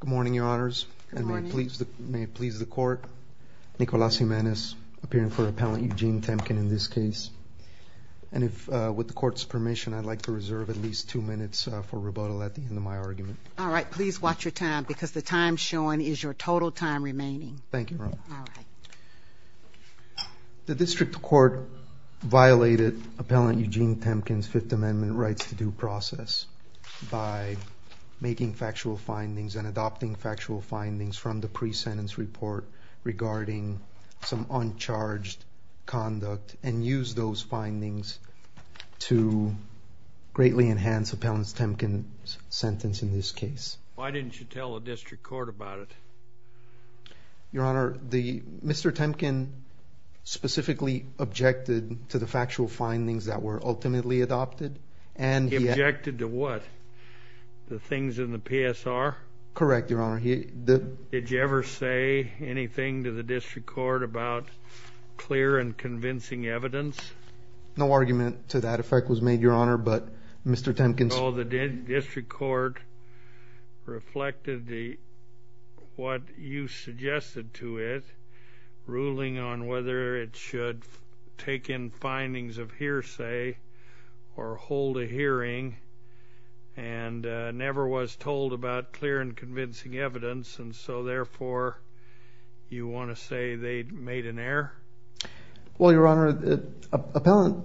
Good morning, Your Honors, and may it please the Court, Nicolás Jiménez, appearing for Appellant Eugene Temkin in this case, and if, with the Court's permission, I'd like to reserve at least two minutes for rebuttal at the end of my argument. All right. Please watch your time, because the time shown is your total time remaining. Thank you, Your Honor. All right. The District Court violated Appellant Eugene Temkin's Fifth Amendment rights to due process by making factual findings and adopting factual findings from the pre-sentence report regarding some uncharged conduct, and used those findings to greatly enhance Appellant Temkin's sentence in this case. Why didn't you tell the District Court about it? Your Honor, Mr. Temkin specifically objected to the factual findings that were ultimately adopted, and he Objected to what? The things in the PSR? Correct, Your Honor. Did you ever say anything to the District Court about clear and convincing evidence? No argument to that effect was made, Your Honor, but Mr. Temkin's So the District Court reflected what you suggested to it, ruling on whether it should take in hearsay or hold a hearing, and never was told about clear and convincing evidence, and so therefore you want to say they made an error? Well, Your Honor, the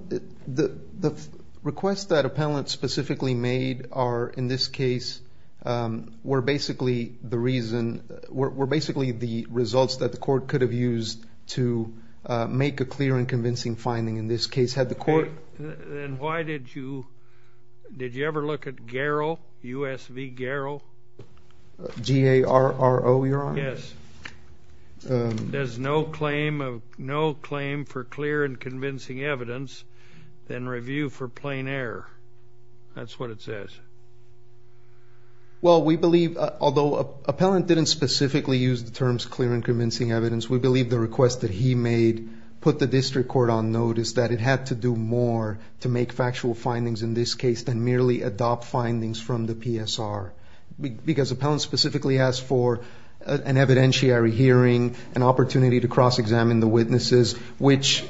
requests that Appellant specifically made are, in this case, were basically the reason, were basically the results that the Court could have used to make a clear and convincing finding in this case. Then why did you, did you ever look at GARO, U.S.V. GARO? G-A-R-O, Your Honor? Yes. There's no claim for clear and convincing evidence than review for plain error. That's what it says. Well we believe, although Appellant didn't specifically use the terms clear and convincing evidence, we believe the requests that he made put the District Court on notice that it had to do more to make factual findings in this case than merely adopt findings from the PSR. Because Appellant specifically asked for an evidentiary hearing, an opportunity to cross-examine the witnesses, which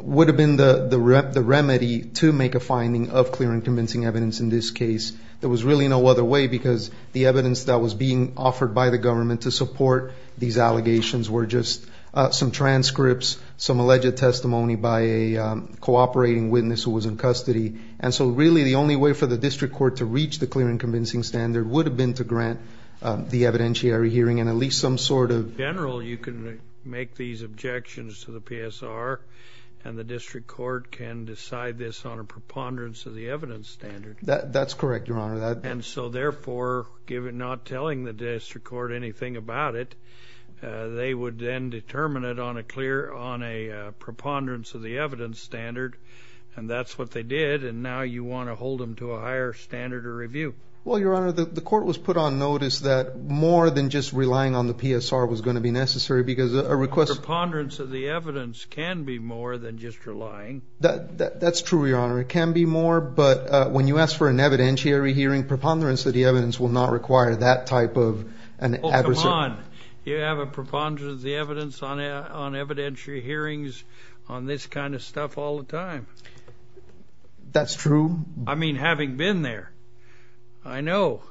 would have been the remedy to make a finding of clear and convincing evidence in this case. There was really no other way because the evidence that was being offered by the government to support these allegations were just some transcripts, some alleged testimony by a cooperating witness who was in custody. And so really the only way for the District Court to reach the clear and convincing standard would have been to grant the evidentiary hearing and at least some sort of... In general, you can make these objections to the PSR and the District Court can decide this on a preponderance of the evidence standard. That's correct, Your Honor. And so therefore, not telling the District Court anything about it, they would then determine it on a preponderance of the evidence standard, and that's what they did, and now you want to hold them to a higher standard of review. Well, Your Honor, the court was put on notice that more than just relying on the PSR was going to be necessary because a request... A preponderance of the evidence can be more than just relying. That's true, Your Honor. It can be more, but when you ask for an evidentiary hearing, preponderance of the evidence will not require that type of an adverse... Oh, come on. You have a preponderance of the evidence on evidentiary hearings on this kind of stuff all the time. That's true. I mean, having been there, I know.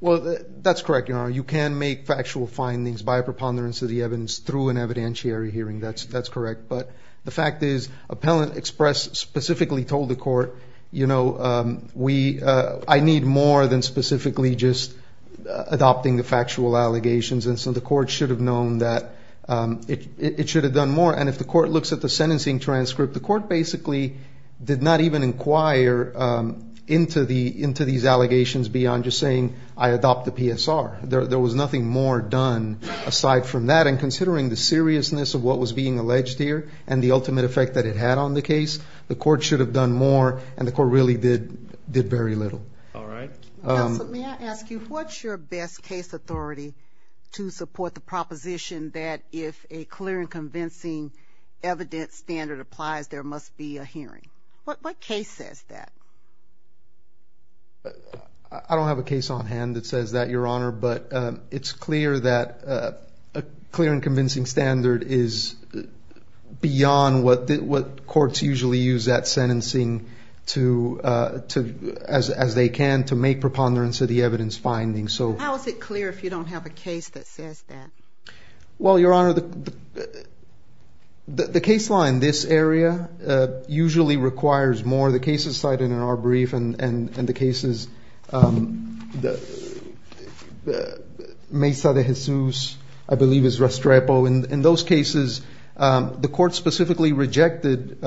Well, that's correct, Your Honor. You can make factual findings by a preponderance of the evidence through an evidentiary hearing. That's correct. But the fact is, Appellant Express specifically told the court, you know, I need more than specifically just adopting the factual allegations, and so the court should have known that it should have done more. And if the court looks at the sentencing transcript, the court basically did not even inquire into these allegations beyond just saying, I adopt the PSR. There was nothing more done aside from that, and considering the seriousness of what was being alleged here and the ultimate effect that it had on the case, the court should have done more, and the court really did very little. All right. Counsel, may I ask you, what's your best case authority to support the proposition that if a clear and convincing evidence standard applies, there must be a hearing? What case says that? I don't have a case on hand that says that, Your Honor, but it's clear that a clear and beyond what courts usually use that sentencing to, as they can, to make preponderance of the evidence finding. How is it clear if you don't have a case that says that? Well, Your Honor, the case law in this area usually requires more. The cases cited in our brief and the cases, Mesa de Jesus, I believe is Restrepo, in those cases, the court specifically rejected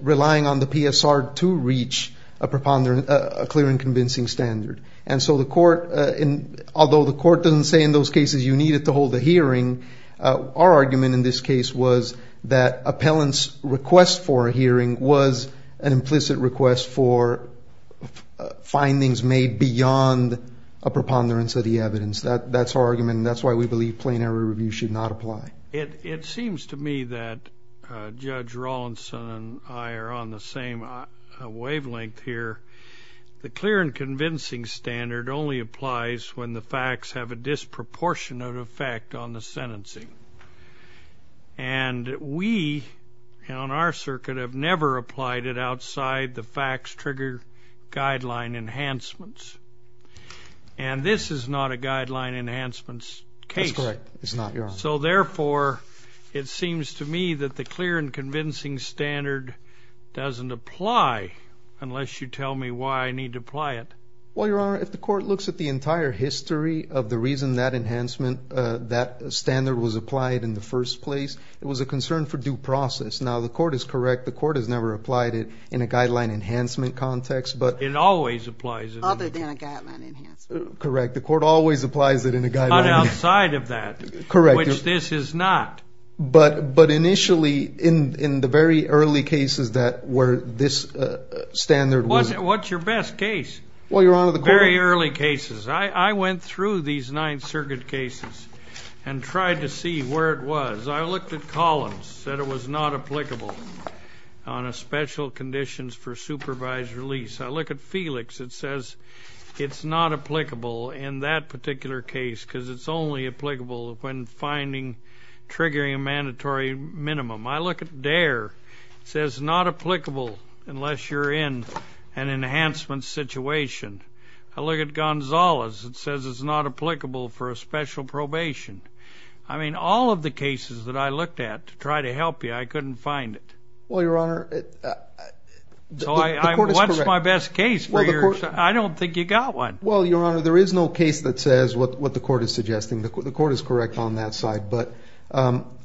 relying on the PSR to reach a clear and convincing standard, and so the court, although the court doesn't say in those cases you need it to hold a hearing, our argument in this case was that appellant's request for a hearing was an implicit request for findings made beyond a preponderance of the evidence. That's our argument, and that's why we believe plain error review should not apply. It seems to me that Judge Rawlinson and I are on the same wavelength here. The clear and convincing standard only applies when the facts have a disproportionate effect on the sentencing, and we, on our circuit, have never applied it outside the facts trigger guideline enhancements, and this is not a guideline enhancements case. That's correct. It's not, Your Honor. So, therefore, it seems to me that the clear and convincing standard doesn't apply unless you tell me why I need to apply it. Well, Your Honor, if the court looks at the entire history of the reason that enhancement, that standard was applied in the first place, it was a concern for due process. Now, the court is correct. The court has never applied it in a guideline enhancement context, but... It always applies it in a guideline enhancement context. Correct. The court always applies it in a guideline... But outside of that, which this is not. But initially, in the very early cases where this standard was... What's your best case? Well, Your Honor, the court... Very early cases. I went through these Ninth Circuit cases and tried to see where it was. I looked at Collins, said it was not applicable on a special conditions for supervised release. I look at Felix, it says it's not applicable in that particular case because it's only applicable when finding, triggering a mandatory minimum. I look at Dare, it says not applicable unless you're in an enhancement situation. I look at Gonzalez, it says it's not applicable for a special probation. I mean, all of the cases that I looked at to try to help you, I couldn't find it. Well, Your Honor... So, what's my best case for you? I don't think you got one. Well, Your Honor, there is no case that says what the court is suggesting. The court is correct on that side. But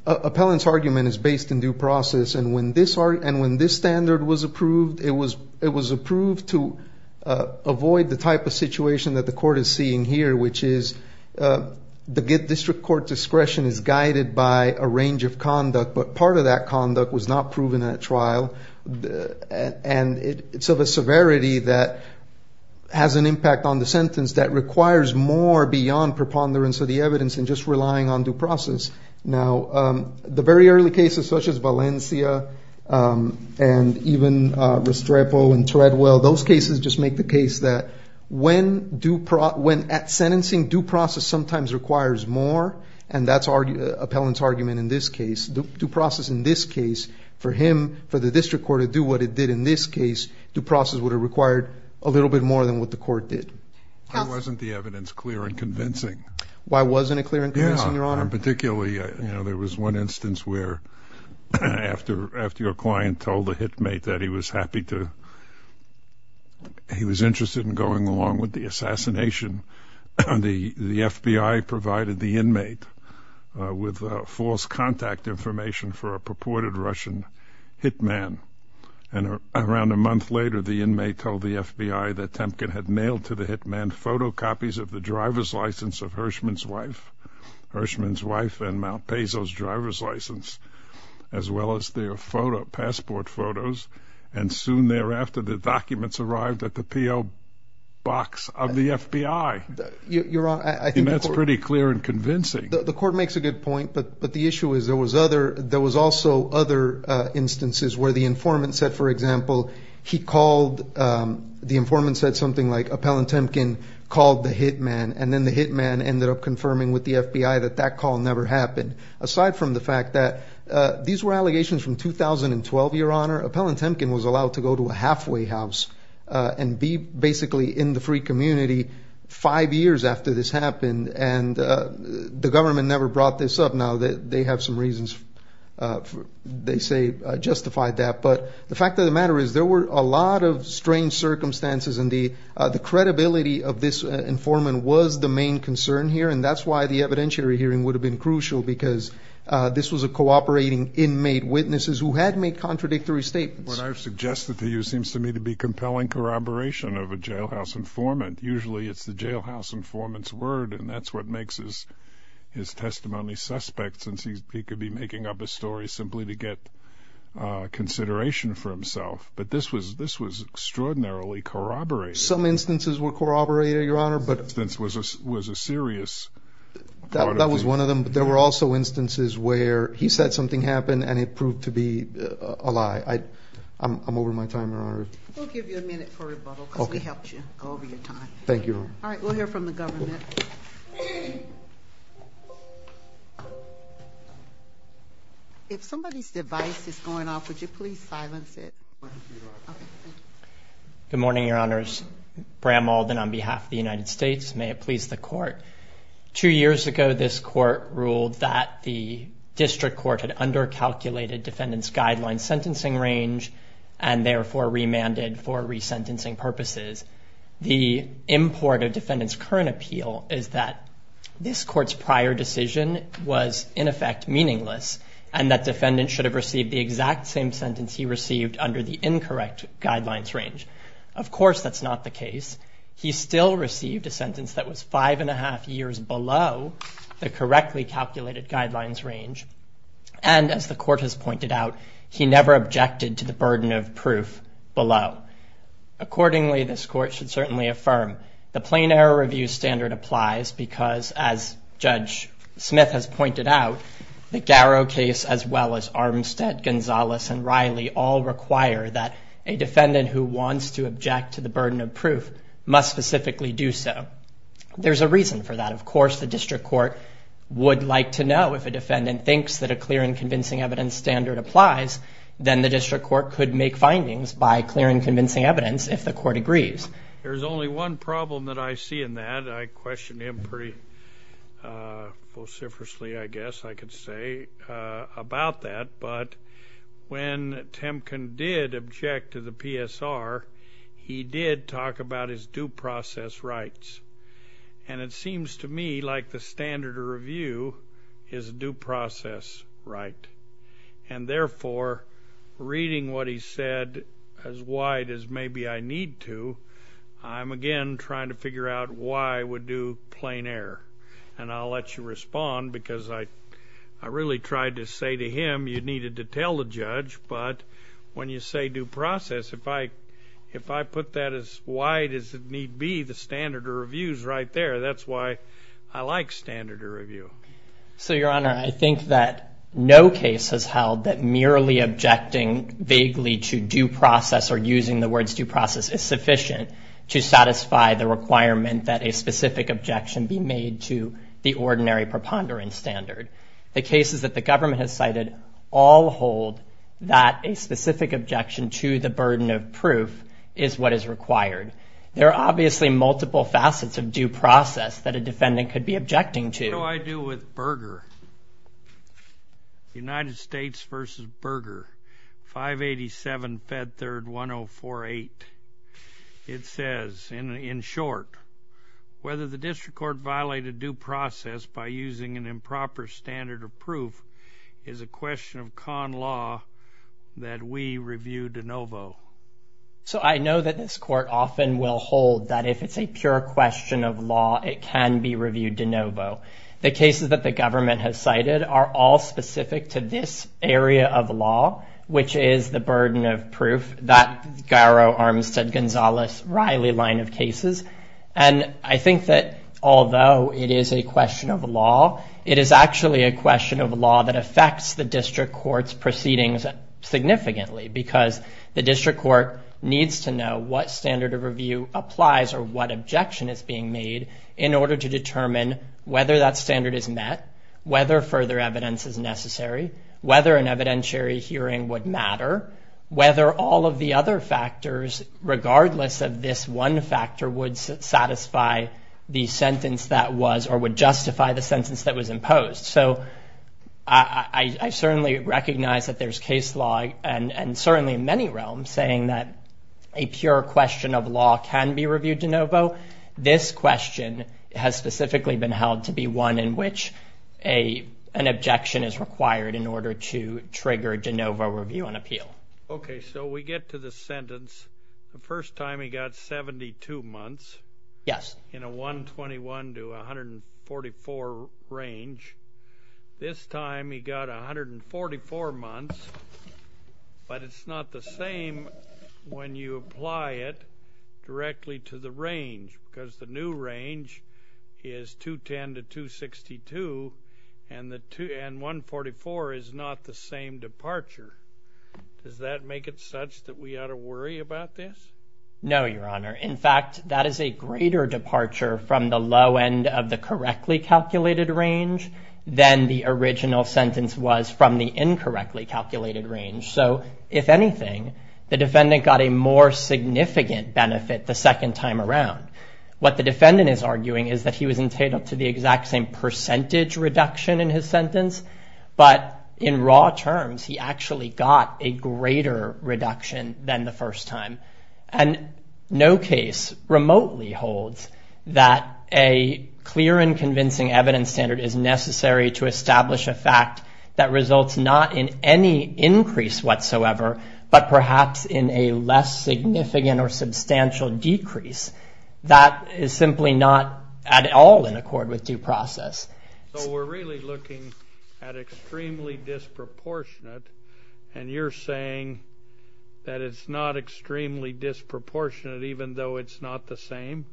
appellant's argument is based in due process. And when this standard was approved, it was approved to avoid the type of situation that the court is seeing here, which is the district court discretion is guided by a range of conduct. But part of that conduct was not proven at trial. And it's of a severity that has an impact on the sentence that requires more beyond preponderance of the evidence and just relying on due process. Now, the very early cases, such as Valencia and even Restrepo and Treadwell, those cases just make the case that when at sentencing, due process sometimes requires more. And that's appellant's argument in this case. Due process in this case, for him, for the district court to do what it did in this case, due process would have required a little bit more than what the court did. That wasn't the evidence clear and convincing. Why wasn't it clear and convincing, Your Honor? Particularly, you know, there was one instance where after your client told a hitmate that he was happy to, he was interested in going along with the assassination, the FBI provided the inmate with false contact information for a purported Russian hitman. And around a month later, the inmate told the FBI that Temkin had mailed to the hitman photocopies of the driver's license of Hirschman's wife, Hirschman's wife and Mount Peso's driver's as well as their passport photos. And soon thereafter, the documents arrived at the P.O. box of the FBI. You're wrong. I think that's pretty clear and convincing. The court makes a good point, but the issue is there was other, there was also other instances where the informant said, for example, he called, the informant said something like appellant Temkin called the hitman and then the hitman ended up confirming with the FBI that that call never happened. Aside from the fact that these were allegations from 2012, your honor, appellant Temkin was allowed to go to a halfway house and be basically in the free community five years after this happened. And the government never brought this up. Now that they have some reasons, they say justified that. But the fact of the matter is there were a lot of strange circumstances and the credibility of this informant was the main concern here. And that's why the evidentiary hearing would have been crucial because this was a cooperating inmate witnesses who had made contradictory statements. What I've suggested to you seems to me to be compelling corroboration of a jailhouse informant. Usually it's the jailhouse informant's word and that's what makes his testimony suspect since he could be making up a story simply to get consideration for himself. But this was, this was extraordinarily corroborated. Some instances were corroborated, your honor. But this was a serious, that was one of them. But there were also instances where he said something happened and it proved to be a lie. I'm over my time, your honor. We'll give you a minute for rebuttal because we helped you go over your time. Thank you. All right. We'll hear from the government. If somebody's device is going off, would you please silence it? Good morning, your honors. Bram Alden on behalf of the United States. May it please the court. Two years ago, this court ruled that the district court had under-calculated defendant's guideline sentencing range and therefore remanded for resentencing purposes. The import of defendant's current appeal is that this court's prior decision was in effect meaningless and that defendant should have received the exact same sentence he received under the incorrect guidelines range. Of course, that's not the case. He still received a sentence that was five and a half years below the correctly calculated guidelines range. And as the court has pointed out, he never objected to the burden of proof below. Accordingly, this court should certainly affirm the plain error review standard applies because, as Judge Smith has pointed out, the Garrow case as well as Armstead, Gonzalez, and Riley all require that a defendant who wants to object to the burden of proof must specifically do so. There's a reason for that. Of course, the district court would like to know if a defendant thinks that a clear and convincing evidence standard applies, then the district court could make findings by clear and convincing evidence if the court agrees. There's only one problem that I see in that. I question him pretty vociferously, I guess I could say, about that. But when Temkin did object to the PSR, he did talk about his due process rights. And it seems to me like the standard of review is due process right. And therefore, reading what he said as wide as maybe I need to, I'm, again, trying to figure out why I would do plain error. And I'll let you respond because I really tried to say to him you needed to tell the judge. But when you say due process, if I put that as wide as it need be, the standard of review is right there. That's why I like standard of review. So, Your Honor, I think that no case has held that merely objecting vaguely to due process or using the words due process is sufficient to satisfy the requirement that a specific objection be made to the ordinary preponderance standard. The cases that the government has cited all hold that a specific objection to the burden of proof is what is required. There are obviously multiple facets of due process that a defendant could be objecting to. What do I do with Berger? United States v. Berger, 587 Fed Third 1048. It says, in short, whether the district court violated due process by using an improper standard of proof is a question of con law that we review de novo. So I know that this court often will hold that if it's a pure question of law, it can be reviewed de novo. The cases that the government has cited are all specific to this area of law, which is the burden of proof, that Garrow, Armstead, Gonzales, Riley line of cases. And I think that although it is a question of law, it is actually a question of law that affects the district court's proceedings significantly, because the district court needs to know what standard of review applies or what objection is being made in order to determine whether that standard is met, whether further evidence is necessary, whether an evidentiary hearing would matter, whether all of the other factors, regardless of this one factor, would satisfy the sentence that was or would justify the sentence that was imposed. So I certainly recognize that there's case law, and certainly in many realms, saying that a pure question of law can be reviewed de novo. This question has specifically been held to be one in which an objection is required in order to trigger de novo review and appeal. Okay, so we get to the sentence. The first time he got 72 months. Yes. In a 121 to 144 range. This time he got 144 months, but it's not the same when you apply it directly to the range, because the new range is 210 to 262, and 144 is not the same departure. Does that make it such that we ought to worry about this? No, Your Honor. In fact, that is a greater departure from the low end of the correctly calculated range than the original sentence was from the incorrectly calculated range. So, if anything, the defendant got a more significant benefit the second time around. What the defendant is arguing is that he was entitled to the exact same percentage reduction in his sentence, but in raw terms he actually got a greater reduction than the first time. And no case remotely holds that a clear and convincing evidence standard is necessary to establish a fact that results not in any increase whatsoever, but perhaps in a less significant or substantial decrease. That is simply not at all in accord with due process. So we're really looking at extremely disproportionate, and you're saying that it's not extremely disproportionate even though it's not the same?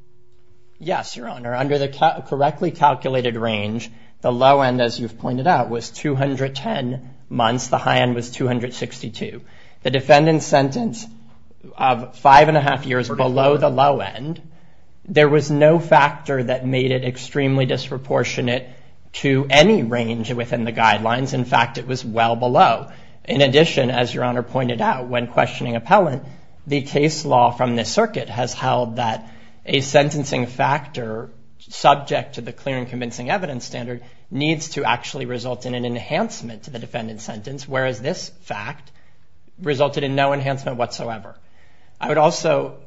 Yes, Your Honor. Under the correctly calculated range, the low end, as you've pointed out, was 210 months. The high end was 262. The defendant's sentence of five and a half years below the low end, there was no factor that made it extremely disproportionate to any range within the guidelines. In fact, it was well below. In addition, as Your Honor pointed out, when questioning appellant, the case law from this circuit has held that a sentencing factor subject to the clear and convincing evidence standard needs to actually result in an enhancement to the defendant's sentence, whereas this fact resulted in no enhancement whatsoever. I would also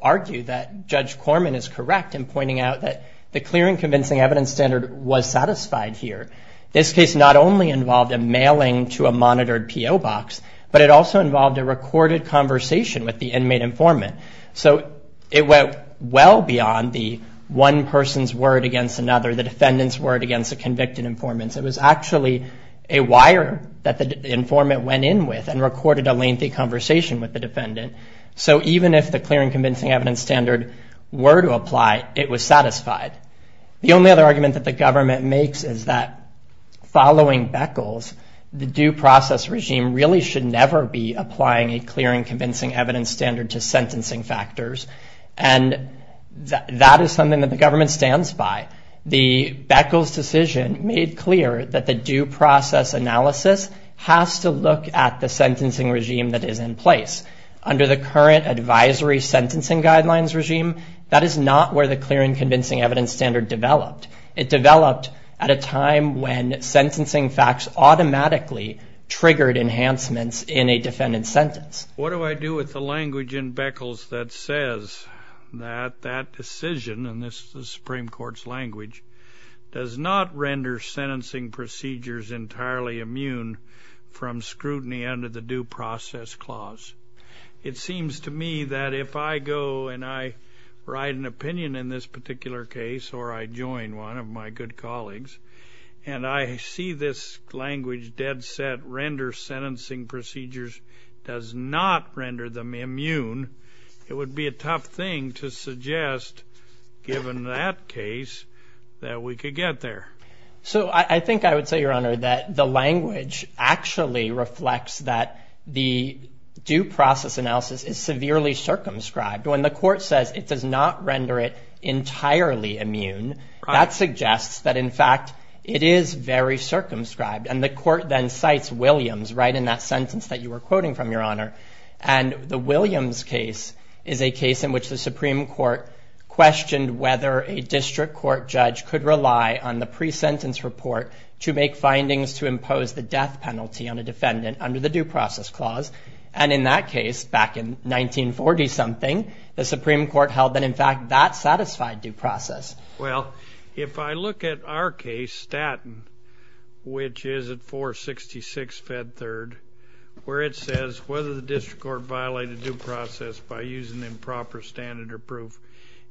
argue that Judge Corman is correct in pointing out that the clear and convincing evidence standard was satisfied here. This case not only involved a mailing to a monitored PO box, but it also involved a recorded conversation with the inmate informant. So it went well beyond the one person's word against another, the defendant's word against a convicted informant. It was actually a wire that the informant went in with and recorded a lengthy conversation with the defendant. So even if the clear and convincing evidence standard were to apply, it was satisfied. The only other argument that the government makes is that following Beckles, the due process regime really should never be applying a clear and convincing evidence standard to sentencing factors, and that is something that the government stands by. The Beckles decision made clear that the due process analysis has to look at the sentencing regime that is in place. Under the current advisory sentencing guidelines regime, that is not where the clear and convincing evidence standard developed. It developed at a time when sentencing facts automatically triggered enhancements in a defendant's sentence. What do I do with the language in Beckles that says that that decision, and this is the Supreme Court's language, does not render sentencing procedures entirely immune from scrutiny under the due process clause? It seems to me that if I go and I write an opinion in this particular case or I join one of my good colleagues, and I see this language dead set, render sentencing procedures does not render them immune, it would be a tough thing to suggest, given that case, that we could get there. So I think I would say, Your Honor, that the language actually reflects that the due process analysis is severely circumscribed. When the court says it does not render it entirely immune, that suggests that, in fact, it is very circumscribed, and the court then cites Williams right in that sentence that you were quoting from, Your Honor, and the Williams case is a case in which the Supreme Court questioned whether a district court judge could rely on the pre-sentence report to make findings to impose the death penalty on a defendant under the due process clause, and in that case, back in 1940-something, the Supreme Court held that, in fact, that satisfied due process. Well, if I look at our case, Statton, which is at 466 Fed Third, where it says whether the district court violated due process by using improper standard or proof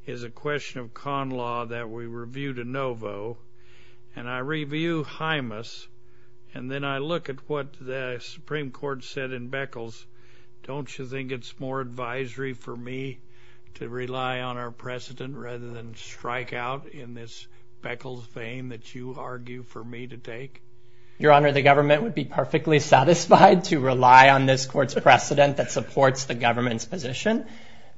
is a question of con law that we review de novo, and I review HIMAS, and then I look at what the Supreme Court said in Beckles, don't you think it's more advisory for me to rely on our precedent rather than strike out in this Beckles vein that you argue for me to take? Your Honor, the government would be perfectly satisfied to rely on this court's precedent that supports the government's position.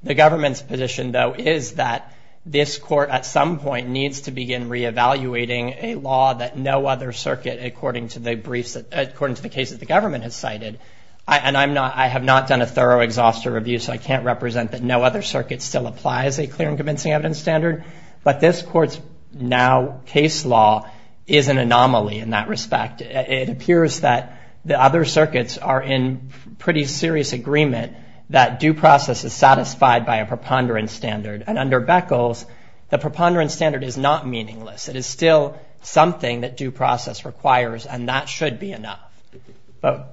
The government's position, though, is that this court at some point needs to begin reevaluating a law that no other circuit, according to the briefs, according to the case that the government has cited, and I have not done a thorough exhaustive review, so I can't represent that no other circuit still applies a clear and convincing evidence standard, but this court's now case law is an anomaly in that respect. It appears that the other circuits are in pretty serious agreement that due process is satisfied by a preponderance standard, and under Beckles, the preponderance standard is not meaningless. It is still something that due process requires, and that should be enough,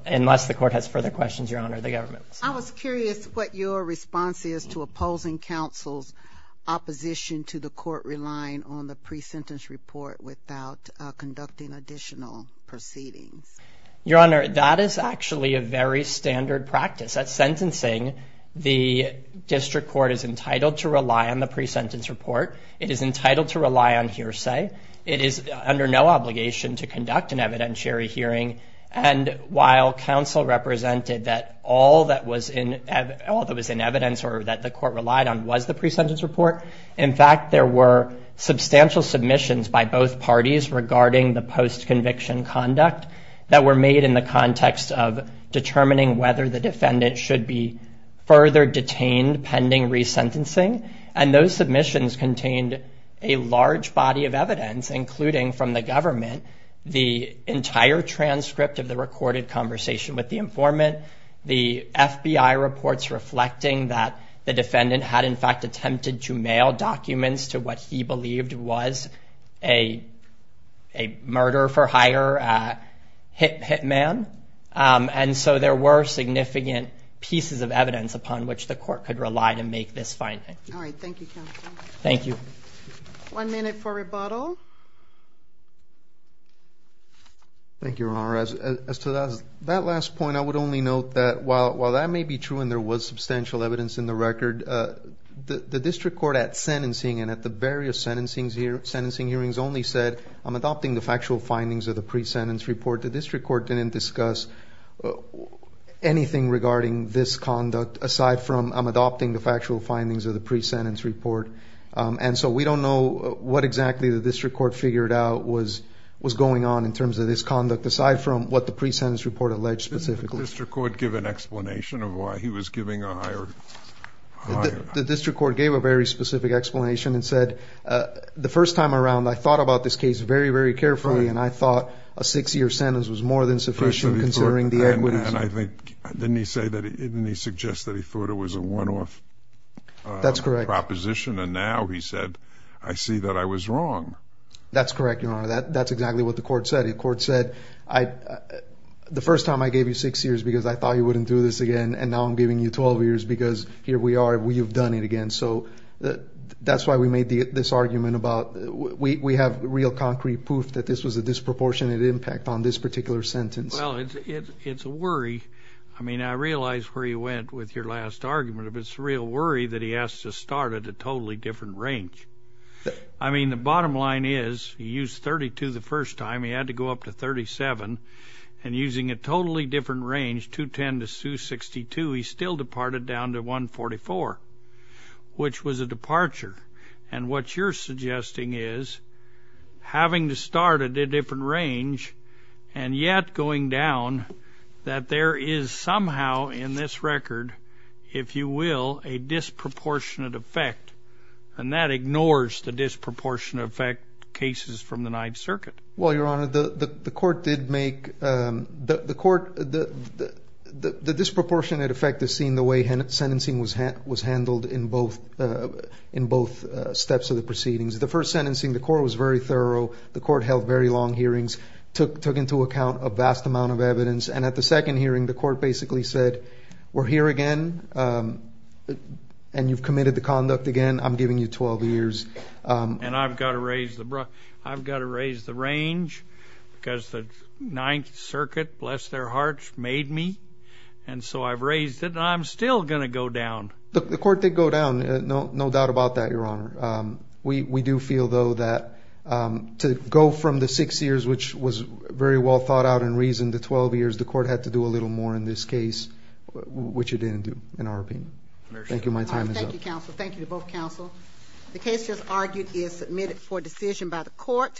unless the court has further questions, Your Honor, the government. I was curious what your response is to opposing counsel's opposition to the court relying on the pre-sentence report without conducting additional proceedings. Your Honor, that is actually a very standard practice. At sentencing, the district court is entitled to rely on the pre-sentence report. It is entitled to rely on hearsay. It is under no obligation to conduct an evidentiary hearing, and while counsel represented that all that was in evidence or that the court relied on was the pre-sentence report, in fact there were substantial submissions by both parties regarding the post-conviction conduct that were made in the context of determining whether the defendant should be further detained pending resentencing, and those submissions contained a large body of evidence, including from the government, the entire transcript of the recorded conversation with the informant, the FBI reports reflecting that the defendant had in fact attempted to mail documents to what he believed was a murder-for-hire hitman, and so there were significant pieces of evidence upon which the court could rely to make this finding. All right, thank you, counsel. Thank you. One minute for rebuttal. Thank you, Your Honor. As to that last point, I would only note that while that may be true and there was substantial evidence in the record, the district court at sentencing and at the various sentencing hearings only said I'm adopting the factual findings of the pre-sentence report. The district court didn't discuss anything regarding this conduct aside from I'm adopting the factual findings of the pre-sentence report, and so we don't know what exactly the district court figured out was going on in terms of this conduct aside from what the pre-sentence report alleged specifically. Didn't the district court give an explanation of why he was giving a hire? The district court gave a very specific explanation and said the first time around I thought about this case very, very carefully, and I thought a six-year sentence was more than sufficient considering the equities. Didn't he suggest that he thought it was a one-off proposition? That's correct. And now he said I see that I was wrong. That's correct, Your Honor. That's exactly what the court said. The court said the first time I gave you six years because I thought you wouldn't do this again, and now I'm giving you 12 years because here we are, we have done it again. So that's why we made this argument about we have real concrete proof that this was a disproportionate impact on this particular sentence. Well, it's a worry. I mean, I realize where you went with your last argument, but it's a real worry that he has to start at a totally different range. I mean, the bottom line is he used 32 the first time. He had to go up to 37, and using a totally different range, 210 to 262, he still departed down to 144, which was a departure. And what you're suggesting is having to start at a different range and yet going down that there is somehow in this record, if you will, a disproportionate effect, and that ignores the disproportionate effect cases from the Ninth Circuit. Well, Your Honor, the court did make the disproportionate effect is seen the way sentencing was handled in both steps of the proceedings. The first sentencing, the court was very thorough. The court held very long hearings, took into account a vast amount of evidence, and at the second hearing, the court basically said, we're here again and you've committed the conduct again. I'm giving you 12 years. And I've got to raise the range because the Ninth Circuit, bless their hearts, made me. And so I've raised it, and I'm still going to go down. The court did go down, no doubt about that, Your Honor. We do feel, though, that to go from the six years, which was very well thought out and reasoned, to 12 years, the court had to do a little more in this case, which it didn't do in our opinion. Thank you. My time is up. Thank you, counsel. Thank you to both counsel. The case just argued is submitted for decision by the court.